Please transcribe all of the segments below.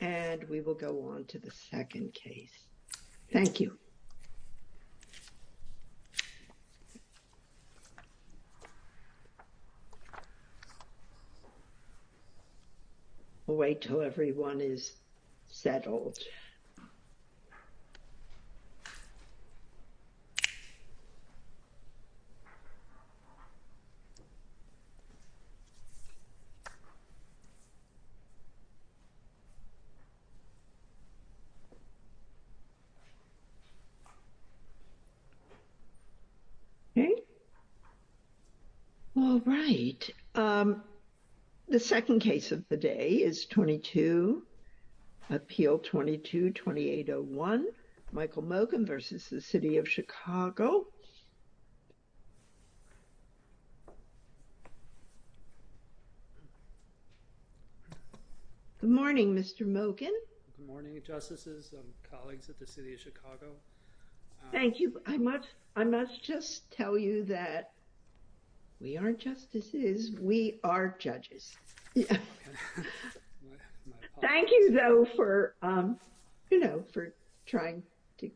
And we will go on to the second case. Thank you. We'll wait till everyone is settled. Okay. All right. The second case of the day is 22, Appeal 22-2801, Michael Mogan v. City of Chicago. Good morning, Mr. Mogan. Good morning, Justices and colleagues at the City of Chicago. Thank you. I must just tell you that we aren't justices, we are judges. Yeah. Thank you, though, for, you know, for trying to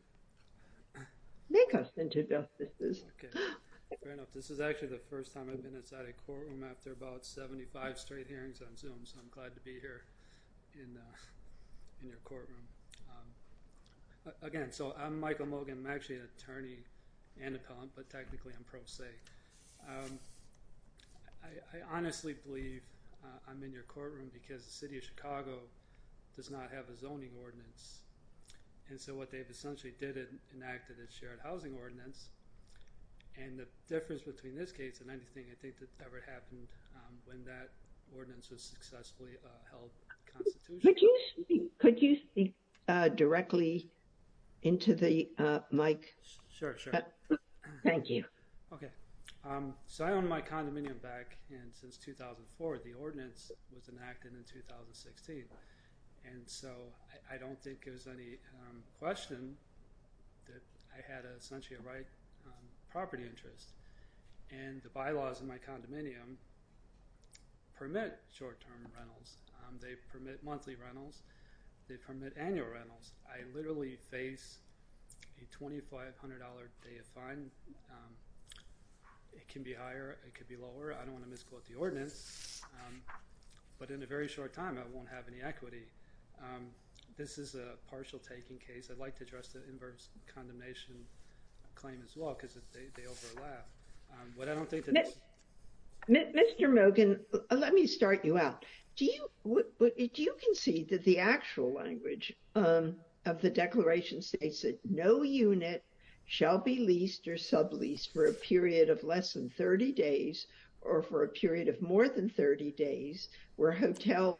make us into justices. Fair enough. This is actually the first time I've been inside a courtroom after about 75 straight hearings on Zoom, so I'm glad to be here in your courtroom. Again, so I'm Michael Mogan. I'm actually an attorney and appellant, but technically I'm pro se. I honestly believe I'm in your courtroom because the City of Chicago does not have a zoning ordinance, and so what they've essentially did is enacted a shared housing ordinance, and the difference between this case and anything I think that's ever happened when that ordinance was successfully held constitutionally. Could you speak directly into the mic? Sure, sure. Thank you. Okay, so I own my condominium back in since 2004. The ordinance was enacted in 2016, and so I don't think there's any question that I had essentially a right property interest, and the bylaws in my condominium permit short-term rentals. They permit monthly rentals. They permit annual rentals. I literally face a $2,500 day of fine. It can be higher. It could be lower. I don't want to misquote the ordinance, but in a very short time I won't have any equity. This is a partial taking case. I'd like to address the inverse condemnation claim as well because they overlap, but I don't think Mr. Mogan, let me start you out. Do you concede that the actual language of the declaration states that no unit shall be leased or subleased for a period of less than 30 days or for a period of more than 30 days where hotel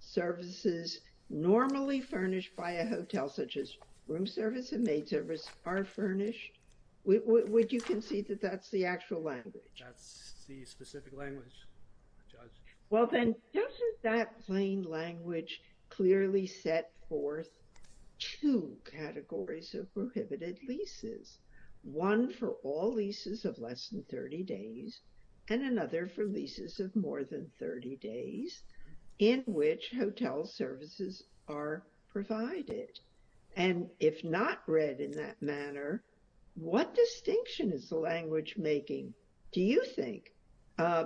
services normally furnished by a hotel such as room service and the specific language, Judge? Well then, doesn't that plain language clearly set forth two categories of prohibited leases? One for all leases of less than 30 days and another for leases of more than 30 days in which hotel services are provided, and if not read in that manner, what distinction is the language making, do you think,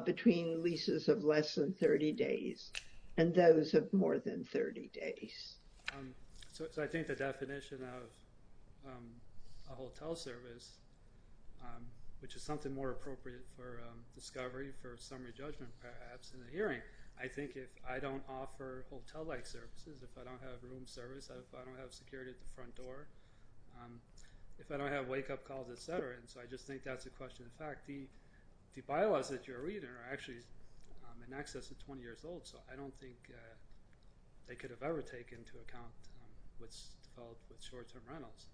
between leases of less than 30 days and those of more than 30 days? So I think the definition of a hotel service, which is something more appropriate for discovery for summary judgment perhaps in the hearing, I think if I don't offer hotel-like services, if I don't have room service, if I don't have security at the front door, if I don't have wake-up calls, etc., and so I just think that's a question of fact. The bylaws that you're reading are actually in excess of 20 years old, so I don't think they could have ever taken into account what's developed with short-term rentals.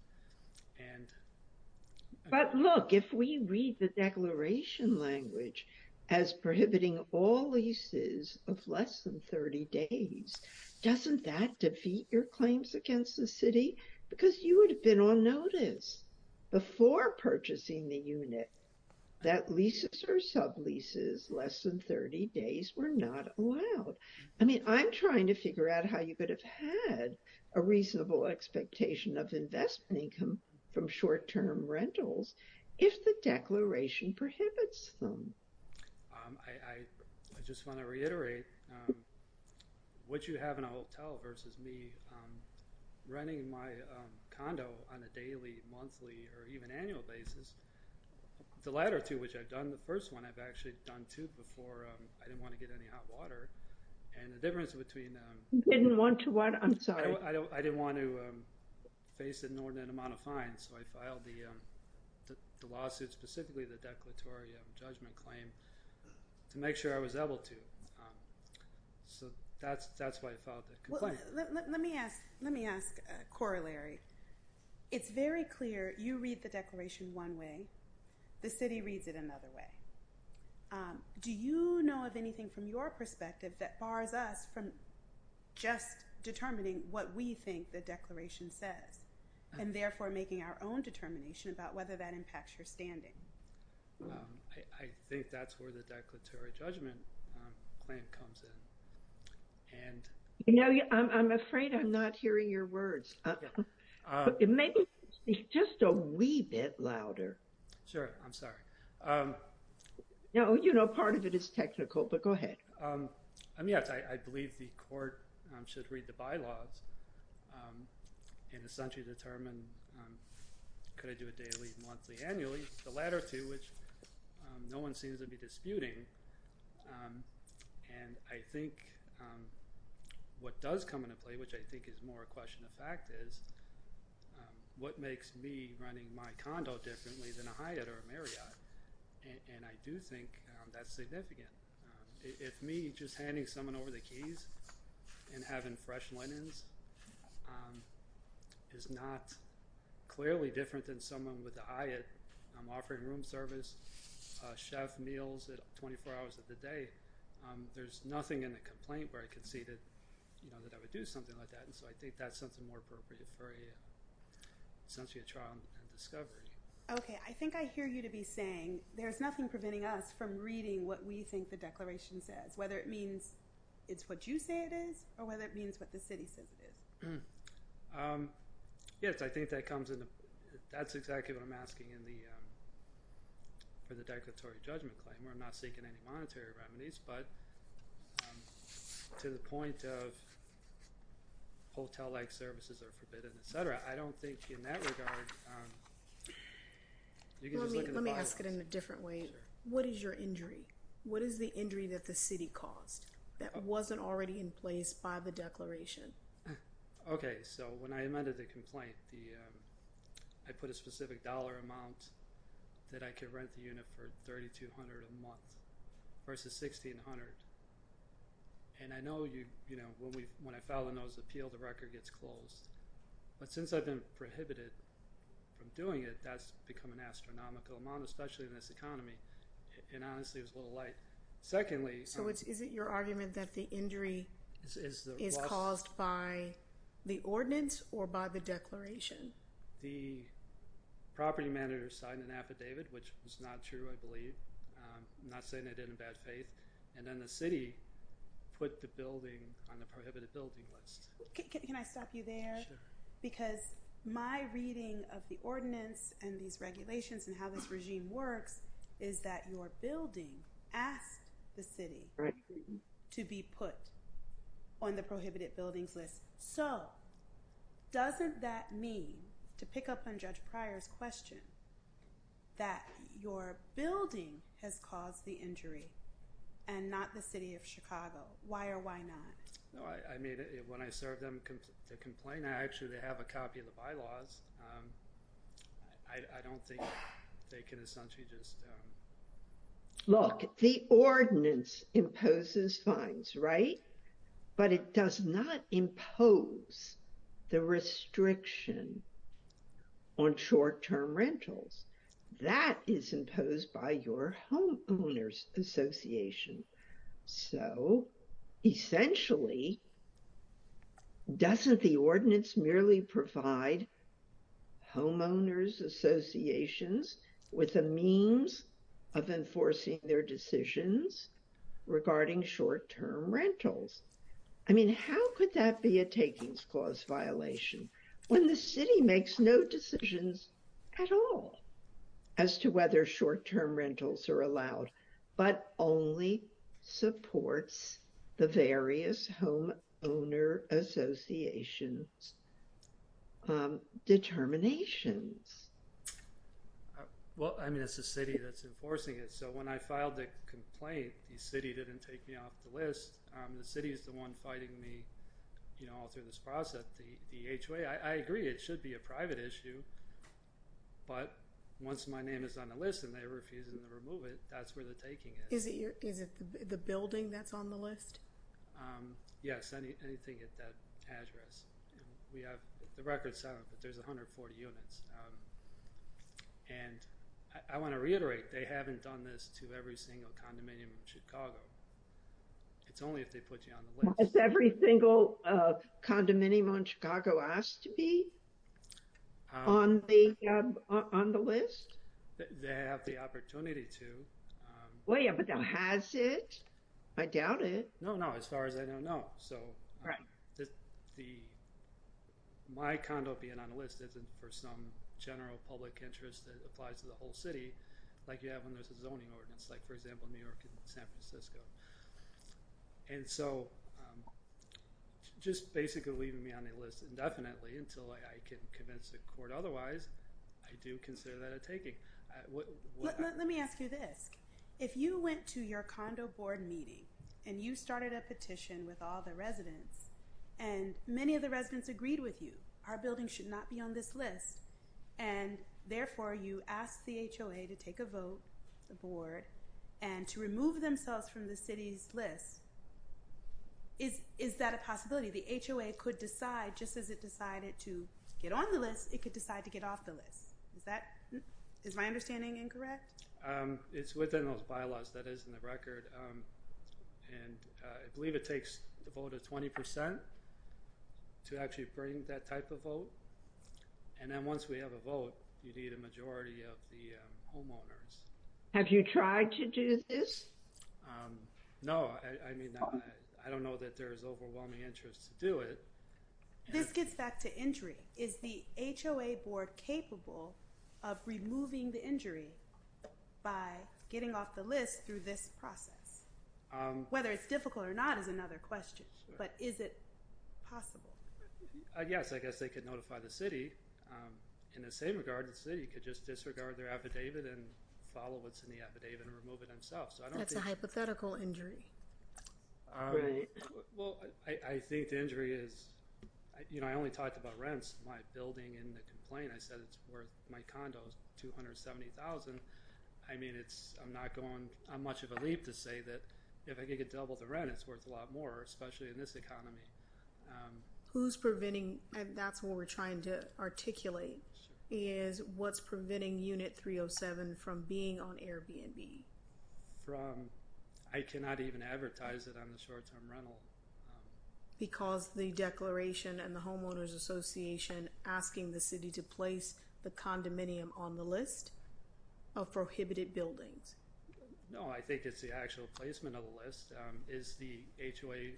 But look, if we read the declaration language as prohibiting all leases of less than 30 days, doesn't that defeat your claims against the city? Because you would have been on notice before purchasing the unit that leases or sub-leases less than 30 days were not allowed. I mean, I'm trying to figure out how you could have had a reasonable expectation of investment income from short-term rentals if the declaration prohibits them. I just want to reiterate what you have in a hotel versus me renting my condo on a daily, monthly, or even annual basis. The latter two, which I've done, the first one I've actually done two before I didn't want to get any hot water, and the difference between... You didn't want to what? I'm sorry. I didn't want to face an inordinate amount of fines, so I filed the lawsuit, specifically the declaratory judgment claim, to make sure I was able to. So that's why I filed the complaint. Let me ask a corollary. It's very clear you read the declaration one way, the city reads it another way. Do you know of anything from your perspective that bars us from just determining what we think the declaration says, and therefore making our own determination about whether that impacts your standing? I think that's where the declaratory judgment claim comes in. I'm afraid I'm not hearing your words. Maybe just a wee bit louder. Sure. I'm sorry. Part of it is technical, but go ahead. Yes, I believe the court should read the bylaws, and essentially determine, could I do a daily, monthly, annually? The latter two, which no one seems to be disputing, and I think what does come into play, which I think is more a question of fact, is what makes me running my condo differently than a Hyatt or a Marriott? And I do think that's significant. If me just handing someone over the keys and having fresh linens is not clearly different than someone with a Hyatt, I'm offering room service, chef meals at 24 hours of the day. There's nothing in the complaint where I could see that I would do something like that, and so I think that's something more appropriate for essentially a trial and discovery. Okay. I think I hear you to be saying, there's nothing preventing us from reading what we think the declaration says, whether it means it's what you say it is, or whether it means what the city says it is. Yes, I think that comes into, that's exactly what I'm asking for the declaratory judgment claim, where I'm not seeking any monetary remedies, but to the point of hotel-like services are forbidden, etc., I don't think in that regard, you can just look at the bylaws. Let me ask it in a different way. What is your injury? What is the injury that the city caused? That wasn't already in place by the declaration. Okay, so when I amended the complaint, I put a specific dollar amount that I could rent the unit for $3,200 a month versus $1,600, and I know when I file a notice of appeal, the record gets closed, but since I've been prohibited from doing it, that's become an astronomical amount, especially in this economy, and honestly, it was a little light. So is it your argument that the injury is caused by the ordinance or by the declaration? The property manager signed an affidavit, which was not true, I believe. I'm not saying I did in bad faith, and then the city put the building on the prohibited building list. Can I stop you there? Sure. Because my reading of ordinance and these regulations and how this regime works is that your building asked the city to be put on the prohibited buildings list. So doesn't that mean, to pick up on Judge Pryor's question, that your building has caused the injury and not the city of Chicago? Why or why not? No, I mean, when I serve them the complaint, I actually have a copy of the bylaws. I don't think they can essentially just... Look, the ordinance imposes fines, right? But it does not impose the restriction on short-term rentals. That is imposed by your homeowners association. So essentially, doesn't the ordinance merely provide homeowners associations with the means of enforcing their decisions regarding short-term rentals? I mean, how could that be a takings clause violation when the city makes no decisions at all as to whether short-term rentals are allowed, but only supports the various homeowners associations determinations? Well, I mean, it's the city that's enforcing it. So when I filed the complaint, the city didn't take me off the list. The city is the one fighting me, you know, all through this process. The HOA, I agree, it should be a private issue. But once my name is on the list and they refuse to remove it, that's where the taking is. Is it the building that's on the list? Yes, anything at that address. We have the records, but there's 140 units. And I want to reiterate, they haven't done this to every single condominium in Chicago. It's only if they put you on the list. Is every single condominium in Chicago asked to be on the list? They have the opportunity to. Well, yeah, but has it? I doubt it. No, no, as far as I know, no. So my condo being on the list isn't for some general public interest that applies to the whole city, like you have when there's a zoning ordinance, like for example, New York and San Francisco. And so just basically leaving me on the list indefinitely until I can convince the court otherwise, I do consider that a taking. Let me ask you this. If you went to your condo board meeting, and you started a petition with all the residents, and many of the residents agreed with you, our building should not be on this list. And therefore you asked the HOA to take a vote, the board, and to remove themselves from the city's list. Is that a possibility? The HOA could decide just as it decided to get on the list, it could decide to get off the list. Is my understanding incorrect? It's within those bylaws that is in the record. And I believe it takes the vote of 20% to actually bring that type of vote. And then once we have a vote, you need a majority of the homeowners. Have you tried to do this? No, I mean, I don't know that there's overwhelming interest to do it. This gets back to injury. Is the HOA board capable of removing the injury by getting off the list through this process? Whether it's difficult or not is another question. But is it possible? Yes, I guess they could notify the city. In the same regard, the city could just disregard their affidavit and follow what's in the affidavit and remove it themselves. That's a hypothetical injury. Well, I think the injury is, you know, I only talked about rents. My building in the complaint, I said it's worth, my condo is $270,000. I mean, it's, I'm not going on much of a leap to say that if I could get double the rent, it's worth a lot more, especially in this economy. Who's preventing, and that's what we're trying to articulate, is what's preventing Unit 307 from being on Airbnb? From, I cannot even advertise it on the short-term rental. Because the declaration and the homeowners association asking the city to place the condominium on the list of prohibited buildings? No, I think it's the actual placement of the list. Is the HOA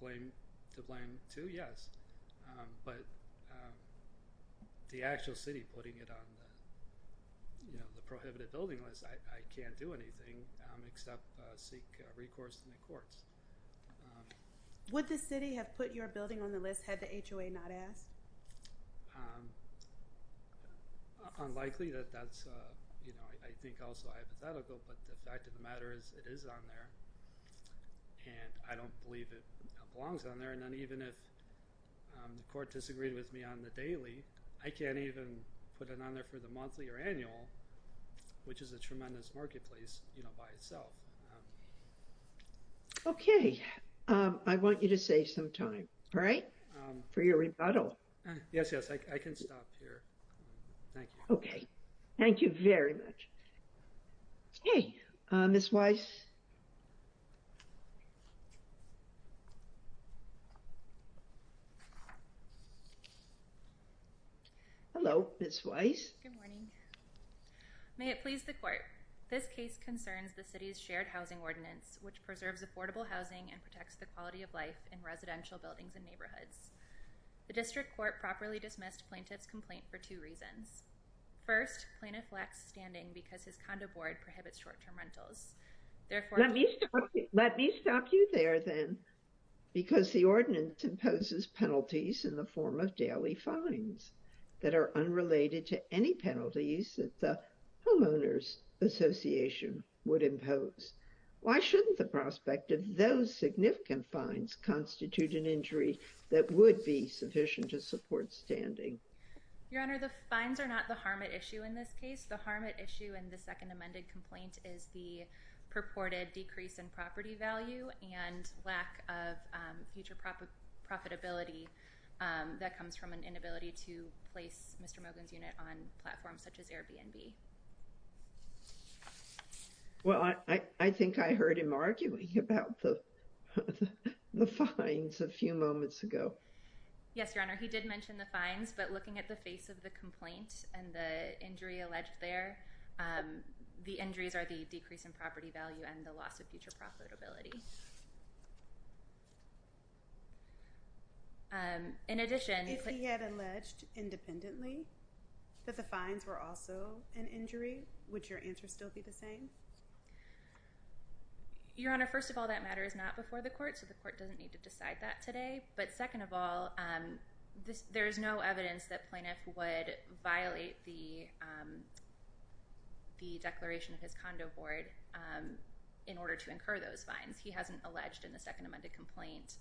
blame to blame too? Yes, but the actual city putting it on the, you know, the prohibited building list, I can't do anything except seek recourse in the courts. Would the city have put your building on the list had the HOA not asked? Unlikely that that's, you know, I think also hypothetical, but the fact of the matter is it is on there, and I don't believe it belongs on there, and then even if the court disagreed with me on the daily, I can't even put it on there for the monthly or annual, which is a tremendous marketplace, you know, by itself. Okay, I want you to save some time, all right, for your rebuttal. Yes, yes, I can stop here. Thank you. Okay, thank you very much. Hey, Ms. Weiss. Hello, Ms. Weiss. Good morning. May it please the court, this case concerns the city's shared housing ordinance, which preserves affordable housing and protects the quality of life in residential buildings and neighborhoods. The district court properly dismissed plaintiff's two reasons. First, plaintiff lacks standing because his condo board prohibits short-term rentals. Let me stop you there, then, because the ordinance imposes penalties in the form of daily fines that are unrelated to any penalties that the homeowners association would impose. Why shouldn't the prospect of those significant fines constitute an injury that would be sufficient to protect the quality of life in residential buildings and neighborhoods? And second, plaintiff lacks standing because his condo board prohibits short-term rentals. Let me stop you there, then, because the ordinance imposes penalties in the form of daily fines that are unrelated to any penalties that the homeowners association would impose. Why shouldn't the of the complaint and the injury alleged there, the injuries are the decrease in property value and the loss of future profitability. In addition... If he had alleged independently that the fines were also an injury, would your answer still be the same? Your Honor, first of all, that matter is not before the court, so the court doesn't need to decide that today. But second of all, there is no evidence that plaintiff would violate the declaration of his condo board in order to incur those fines. He hasn't alleged in the second amended complaint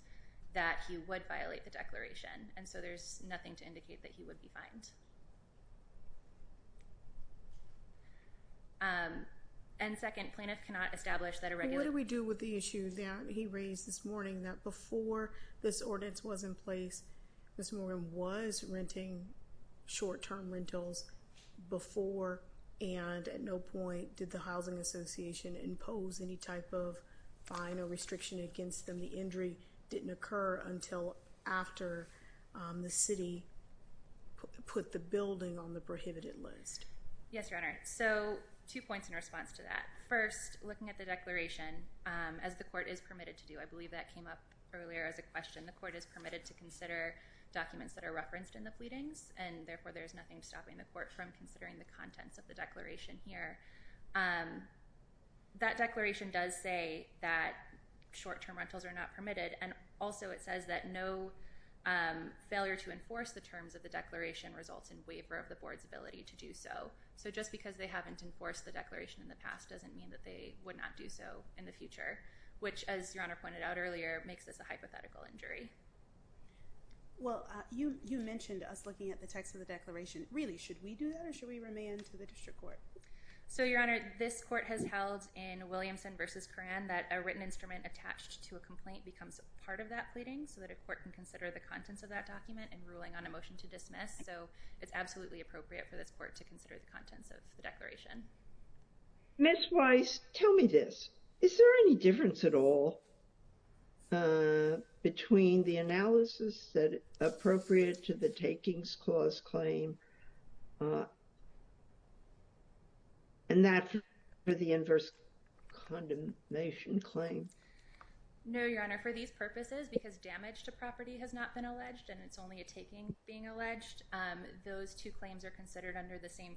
that he would violate the declaration, and so there's nothing to indicate that he would be fined. And second, plaintiff cannot establish that a regular... This ordinance was in place. This woman was renting short-term rentals before and at no point did the housing association impose any type of fine or restriction against them. The injury didn't occur until after the city put the building on the prohibited list. Yes, Your Honor. So two points in response to that. First, looking at the declaration, as the court is permitted to do, I believe that came up earlier as a question. The court is permitted to consider documents that are referenced in the pleadings, and therefore, there's nothing stopping the court from considering the contents of the declaration here. That declaration does say that short-term rentals are not permitted, and also it says that no failure to enforce the terms of the declaration results in waiver of the board's ability to do so. So just because they haven't enforced the declaration in the past doesn't mean that they would not do so in the future, which, as Your Honor pointed out earlier, makes this a hypothetical injury. Well, you mentioned us looking at the text of the declaration. Really, should we do that or should we remand to the district court? So, Your Honor, this court has held in Williamson v. Coran that a written instrument attached to a complaint becomes part of that pleading so that a court can consider the contents of that document in ruling on a motion to dismiss. So it's absolutely appropriate for this court to tell me this. Is there any difference at all between the analysis that is appropriate to the takings clause claim and that for the inverse condemnation claim? No, Your Honor. For these purposes, because damage to property has not been alleged and it's only a taking being alleged, those two claims are in the same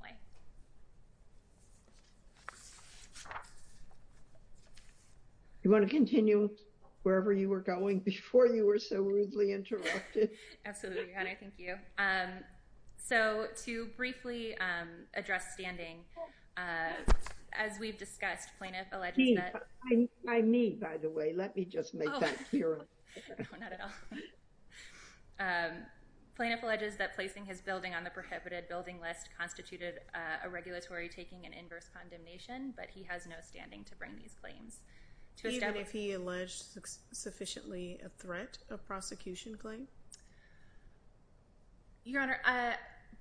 way. You want to continue wherever you were going before you were so rudely interrupted? Absolutely, Your Honor. Thank you. So to briefly address standing, as we've discussed, plaintiff alleges that— By me, by the way. Let me just make that clear. No, not at all. Plaintiff alleges that placing his building on the prohibited building list constituted a regulatory taking and inverse condemnation, but he has no standing to bring these claims. Even if he alleged sufficiently a threat of prosecution claim? Your Honor,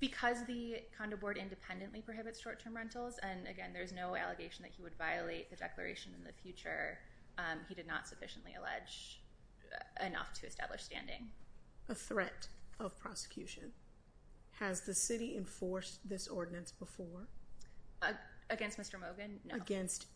because the condo board independently prohibits short-term rentals, and again, there's no allegation that he would violate the declaration in the future, he did not sufficiently allege enough to establish standing. A threat of prosecution. Has the city enforced this ordinance before? Against Mr. Mogan? No. Against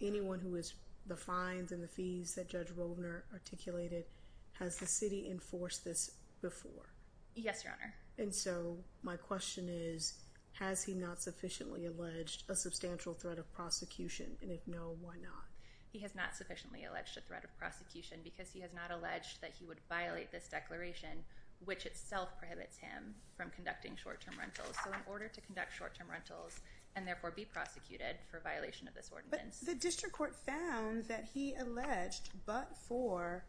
anyone who is—the fines and the fees that Judge Robner articulated—has the city enforced this before? Yes, Your Honor. And so my question is, has he not sufficiently alleged a substantial threat of He has not sufficiently alleged a threat of prosecution because he has not alleged that he would violate this declaration, which itself prohibits him from conducting short-term rentals. So in order to conduct short-term rentals and therefore be prosecuted for violation of this ordinance— But the district court found that he alleged, but for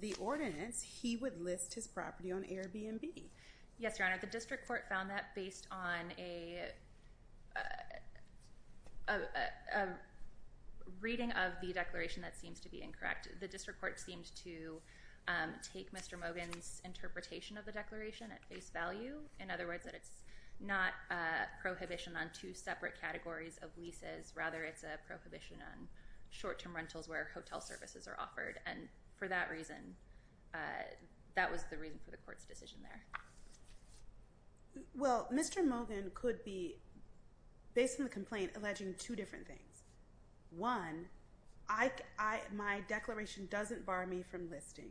the ordinance, he would list his property on Airbnb. Yes, Your Honor. The district court found that based on a a reading of the declaration that seems to be incorrect. The district court seemed to take Mr. Mogan's interpretation of the declaration at face value. In other words, that it's not a prohibition on two separate categories of leases, rather it's a prohibition on short-term rentals where hotel services are offered. And for that reason, that was the reason for the court's decision there. Well, Mr. Mogan could be, based on the complaint, alleging two different things. One, my declaration doesn't bar me from listing,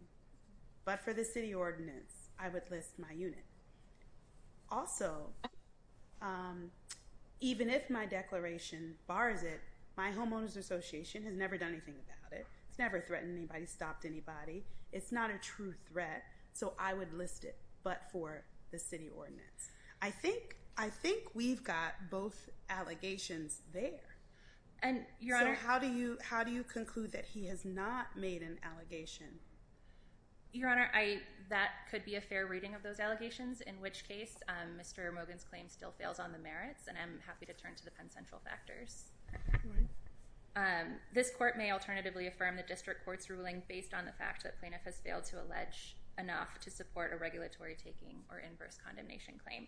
but for the city ordinance, I would list my unit. Also, even if my declaration bars it, my homeowners association has never done anything about it. It's never threatened anybody, stopped anybody. It's not a true threat, so I would list it, but for the city ordinance. I think we've got both allegations there. So how do you conclude that he has not made an allegation? Your Honor, that could be a fair reading of those allegations, in which case Mr. Mogan's claim still fails on the merits, and I'm happy to turn to the Penn Central factors. Go ahead. This court may alternatively affirm the district court's ruling based on the fact that plaintiff has failed to allege enough to support a regulatory taking or inverse condemnation claim.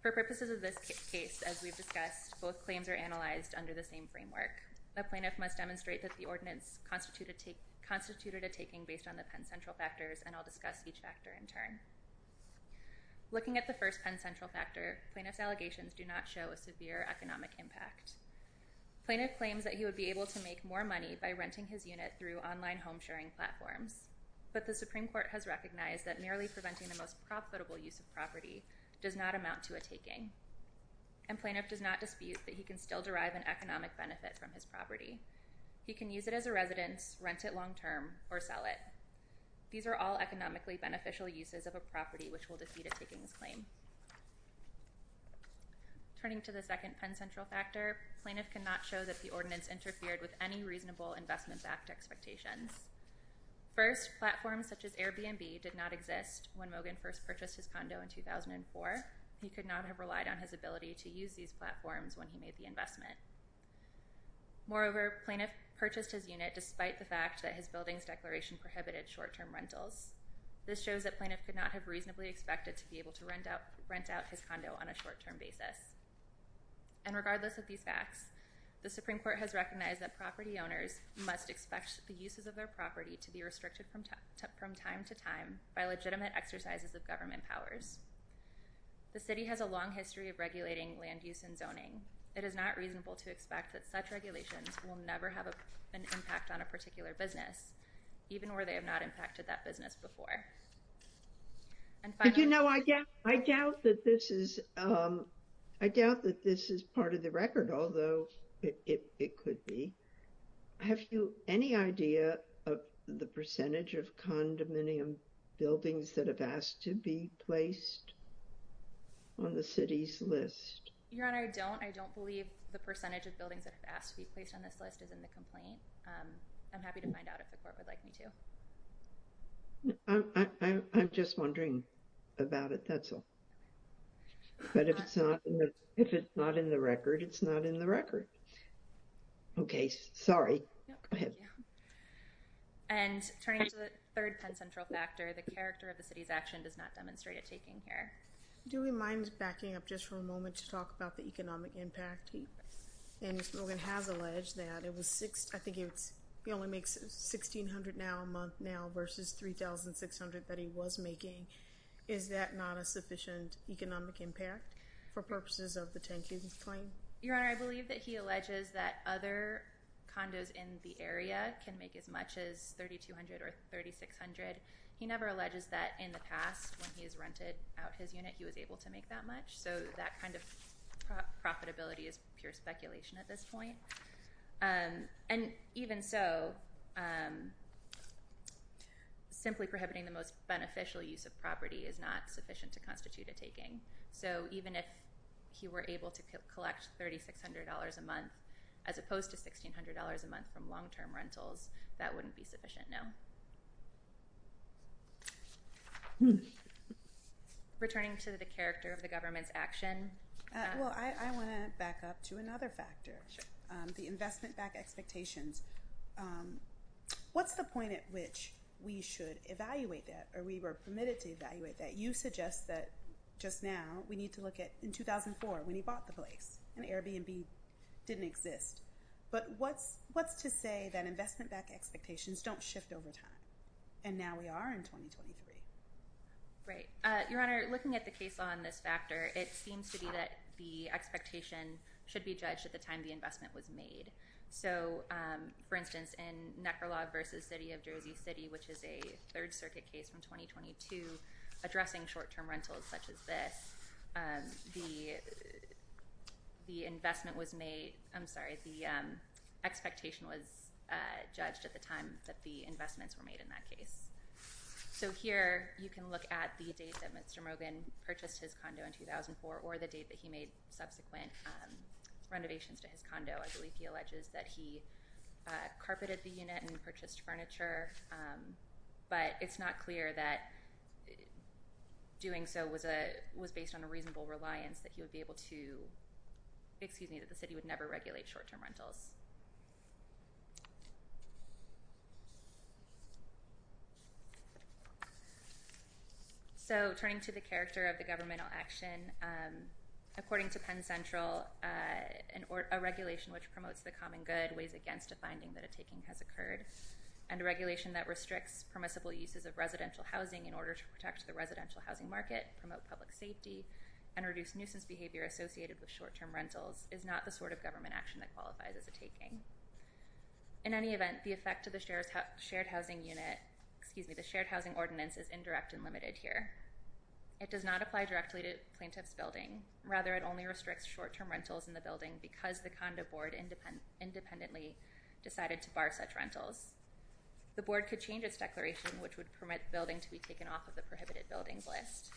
For purposes of this case, as we've discussed, both claims are analyzed under the same framework. The plaintiff must demonstrate that the ordinance constituted a taking based on the Penn Central factors, and I'll discuss each factor in turn. Looking at the first Penn Central factor, plaintiff's allegations do not show a severe economic impact. Plaintiff claims that he would be able to make more money by renting his unit through online home sharing platforms, but the Supreme Court has recognized that merely preventing the most profitable use of property does not amount to a taking, and plaintiff does not dispute that he can still derive an economic benefit from his property. He can use it as a residence, rent it long term, or sell it. These are all economically beneficial uses of a property which will defeat a takings claim. Turning to the second Penn Central factor, plaintiff cannot show that the ordinance interfered with any reasonable investment-backed expectations. First, platforms such as Airbnb did not exist when Mogan first purchased his condo in 2004. He could not have relied on his ability to use these platforms when he made the investment. Moreover, plaintiff purchased his unit despite the fact that his building's declaration prohibited short-term rentals. This shows that plaintiff could not have reasonably expected to be able to rent out his condo on a short-term basis. And regardless of these facts, the Supreme Court has recognized that property owners must expect the uses of their property to be restricted from time to time by legitimate exercises of government powers. The City has a long history of regulating land use and zoning. It is not reasonable to expect that such regulations will never have an impact on a particular business, even where they have not impacted that business before. And you know, I doubt that this is, I doubt that this is part of the record, although it could be. Have you any idea of the percentage of condominium buildings that have asked to be placed on the City's list? Your Honor, I don't. I don't believe the percentage of buildings that have asked to be placed on this list is in the complaint. I'm happy to find out if the Court would like me to. I'm just wondering about it, that's all. But if it's not in the record, it's not in the record. Okay, sorry. Go ahead. And turning to the third Penn Central factor, the character of the City's action does not demonstrate it taking care. Do we mind backing up just for a moment? I think it's, he only makes $1,600 now a month now versus $3,600 that he was making. Is that not a sufficient economic impact for purposes of the 10-kids claim? Your Honor, I believe that he alleges that other condos in the area can make as much as $3,200 or $3,600. He never alleges that in the past when he's rented out his unit he was able to make that much, so that kind of profitability is pure speculation at this point. And even so, simply prohibiting the most beneficial use of property is not sufficient to constitute a taking. So even if he were able to collect $3,600 a month as opposed to $1,600 a month from long-term rentals, that wouldn't be sufficient, no. Returning to the character of the government's action. Well, I want to back up to another factor, the investment-backed expectations. What's the point at which we should evaluate that or we were permitted to evaluate that? You suggest that just now we need to look at in 2004 when he bought the place and Airbnb didn't exist, but what's to say that investment-backed expectations don't shift over time? And now we are in 2023. Right. Your Honor, looking at the case on this factor, it seems to be that the expectation should be judged at the time the investment was made. So, for instance, in Necrolaw v. City of Jersey City, which is a Third Circuit case from 2022 addressing short-term rentals such as this, the expectation was judged at the time that the investments were made in that case. So here you can look at the date that Mr. Morgan purchased his condo in 2004 or the date that he made subsequent renovations to his condo. I believe he alleges that he carpeted the unit and purchased furniture, but it's not clear that doing so was based on a reasonable reliance that he would be able to—excuse me, that the city would never regulate short-term rentals. So turning to the character of the governmental action, according to Penn Central, a regulation which promotes the common good weighs against a finding that a taking has occurred, and a regulation that restricts permissible uses of residential housing in order to protect the residential housing market, promote public safety, and reduce nuisance behavior associated with short-term rentals is not the sort of government action that qualifies as a taking. In any event, the effect to the shared housing unit—excuse me, the shared housing ordinance is indirect and limited here. It does not apply directly to plaintiff's building. Rather, it only restricts short-term rentals in the building because the condo board independently decided to bar such rentals. The board could change its declaration, which would permit the building to be taken off of the prohibited buildings list.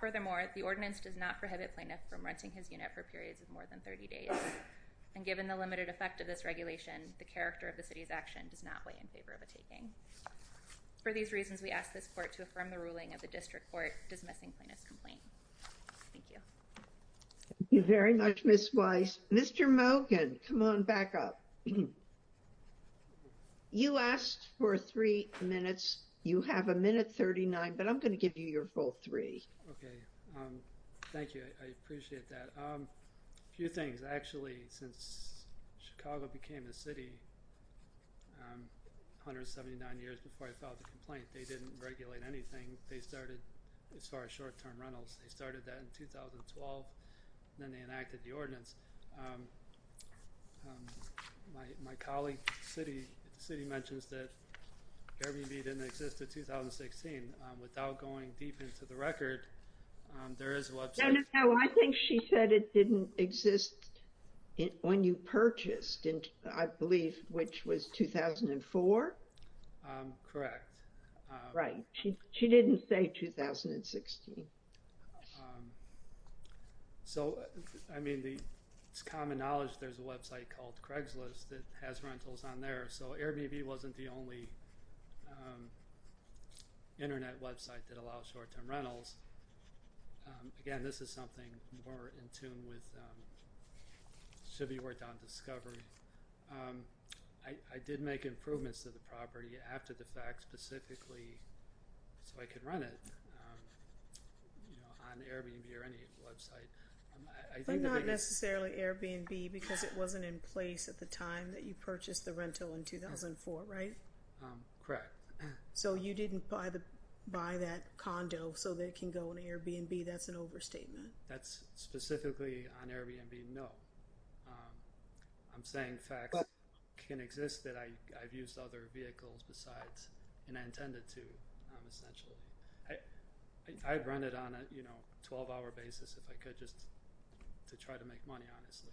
Furthermore, the ordinance does not prohibit plaintiff from renting his unit for periods of more than 30 days, and given the limited effect of this regulation, the character of the city's action does not weigh in favor of a taking. For these reasons, we ask this court to affirm the ruling of the district court dismissing plaintiff's complaint. Thank you. Thank you very much, Ms. Weiss. Mr. Mogan, come on back up. You asked for three minutes. You have a minute 39, but I'm going to give you your full three. Okay. Thank you. I appreciate that. A few things. Actually, since Chicago became a city 179 years before I filed the complaint, they didn't regulate anything. They started—as I recall—in 2012, then they enacted the ordinance. My colleague at the city mentions that Airbnb didn't exist in 2016. Without going deep into the record, there is a website— No, no, no. I think she said it didn't exist when you purchased, I believe, which was 2004? Correct. Right. She didn't say 2016. So, I mean, it's common knowledge there's a website called Craigslist that has rentals on there, so Airbnb wasn't the only internet website that allowed short-term rentals. Again, this is something more in tune with—should be worked on discovery. I did make improvements to the property after the fact specifically so I could run it on Airbnb or any website. But not necessarily Airbnb because it wasn't in place at the time that you purchased the rental in 2004, right? Correct. So you didn't buy that condo so that it can go on Airbnb? That's an overstatement. That's specifically on Airbnb, no. I'm saying facts can exist that I've used other vehicles besides, and I intended to, essentially. I'd rent it on a 12-hour basis if I could just to try to make money, honestly.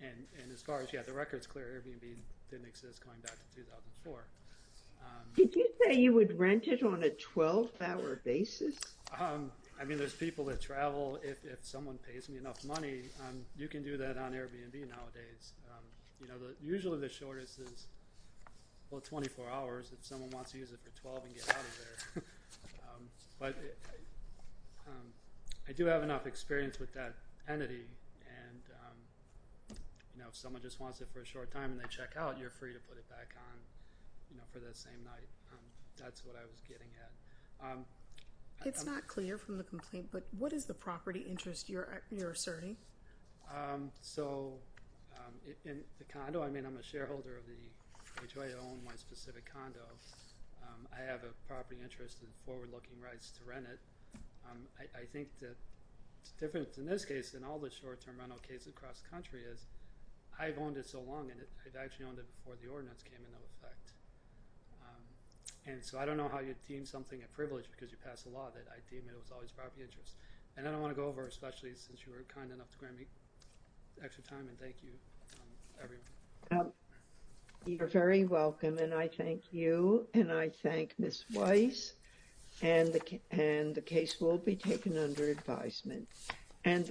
And as far as, yeah, the record's clear. Airbnb didn't exist going back to 2004. Did you say you would rent it on a 12-hour basis? I mean, there's people that travel. If someone pays me enough money, you can do that on Airbnb nowadays. You know, usually the shortest is, well, 24 hours if someone wants to use it for 12 and get out of there. But I do have enough experience with that entity and, you know, if someone just wants it for a short time and they check out, you're free to put it back on, you know, for that same night. That's what I was getting at. It's not clear from the complaint, but what is the property interest you're asserting? Um, so in the condo, I mean, I'm a shareholder of the HOA, I own my specific condo. I have a property interest in forward-looking rights to rent it. I think that it's different in this case than all the short-term rental case across the country is, I've owned it so long and I've actually owned it before the ordinance came into effect. And so I don't know how you'd deem something a privilege because you pass a law that I deem it was always property interest. And I don't want to go over especially since you were kind enough to grant me extra time and thank you everyone. You're very welcome and I thank you and I thank Ms. Weiss and the case will be taken under advisement.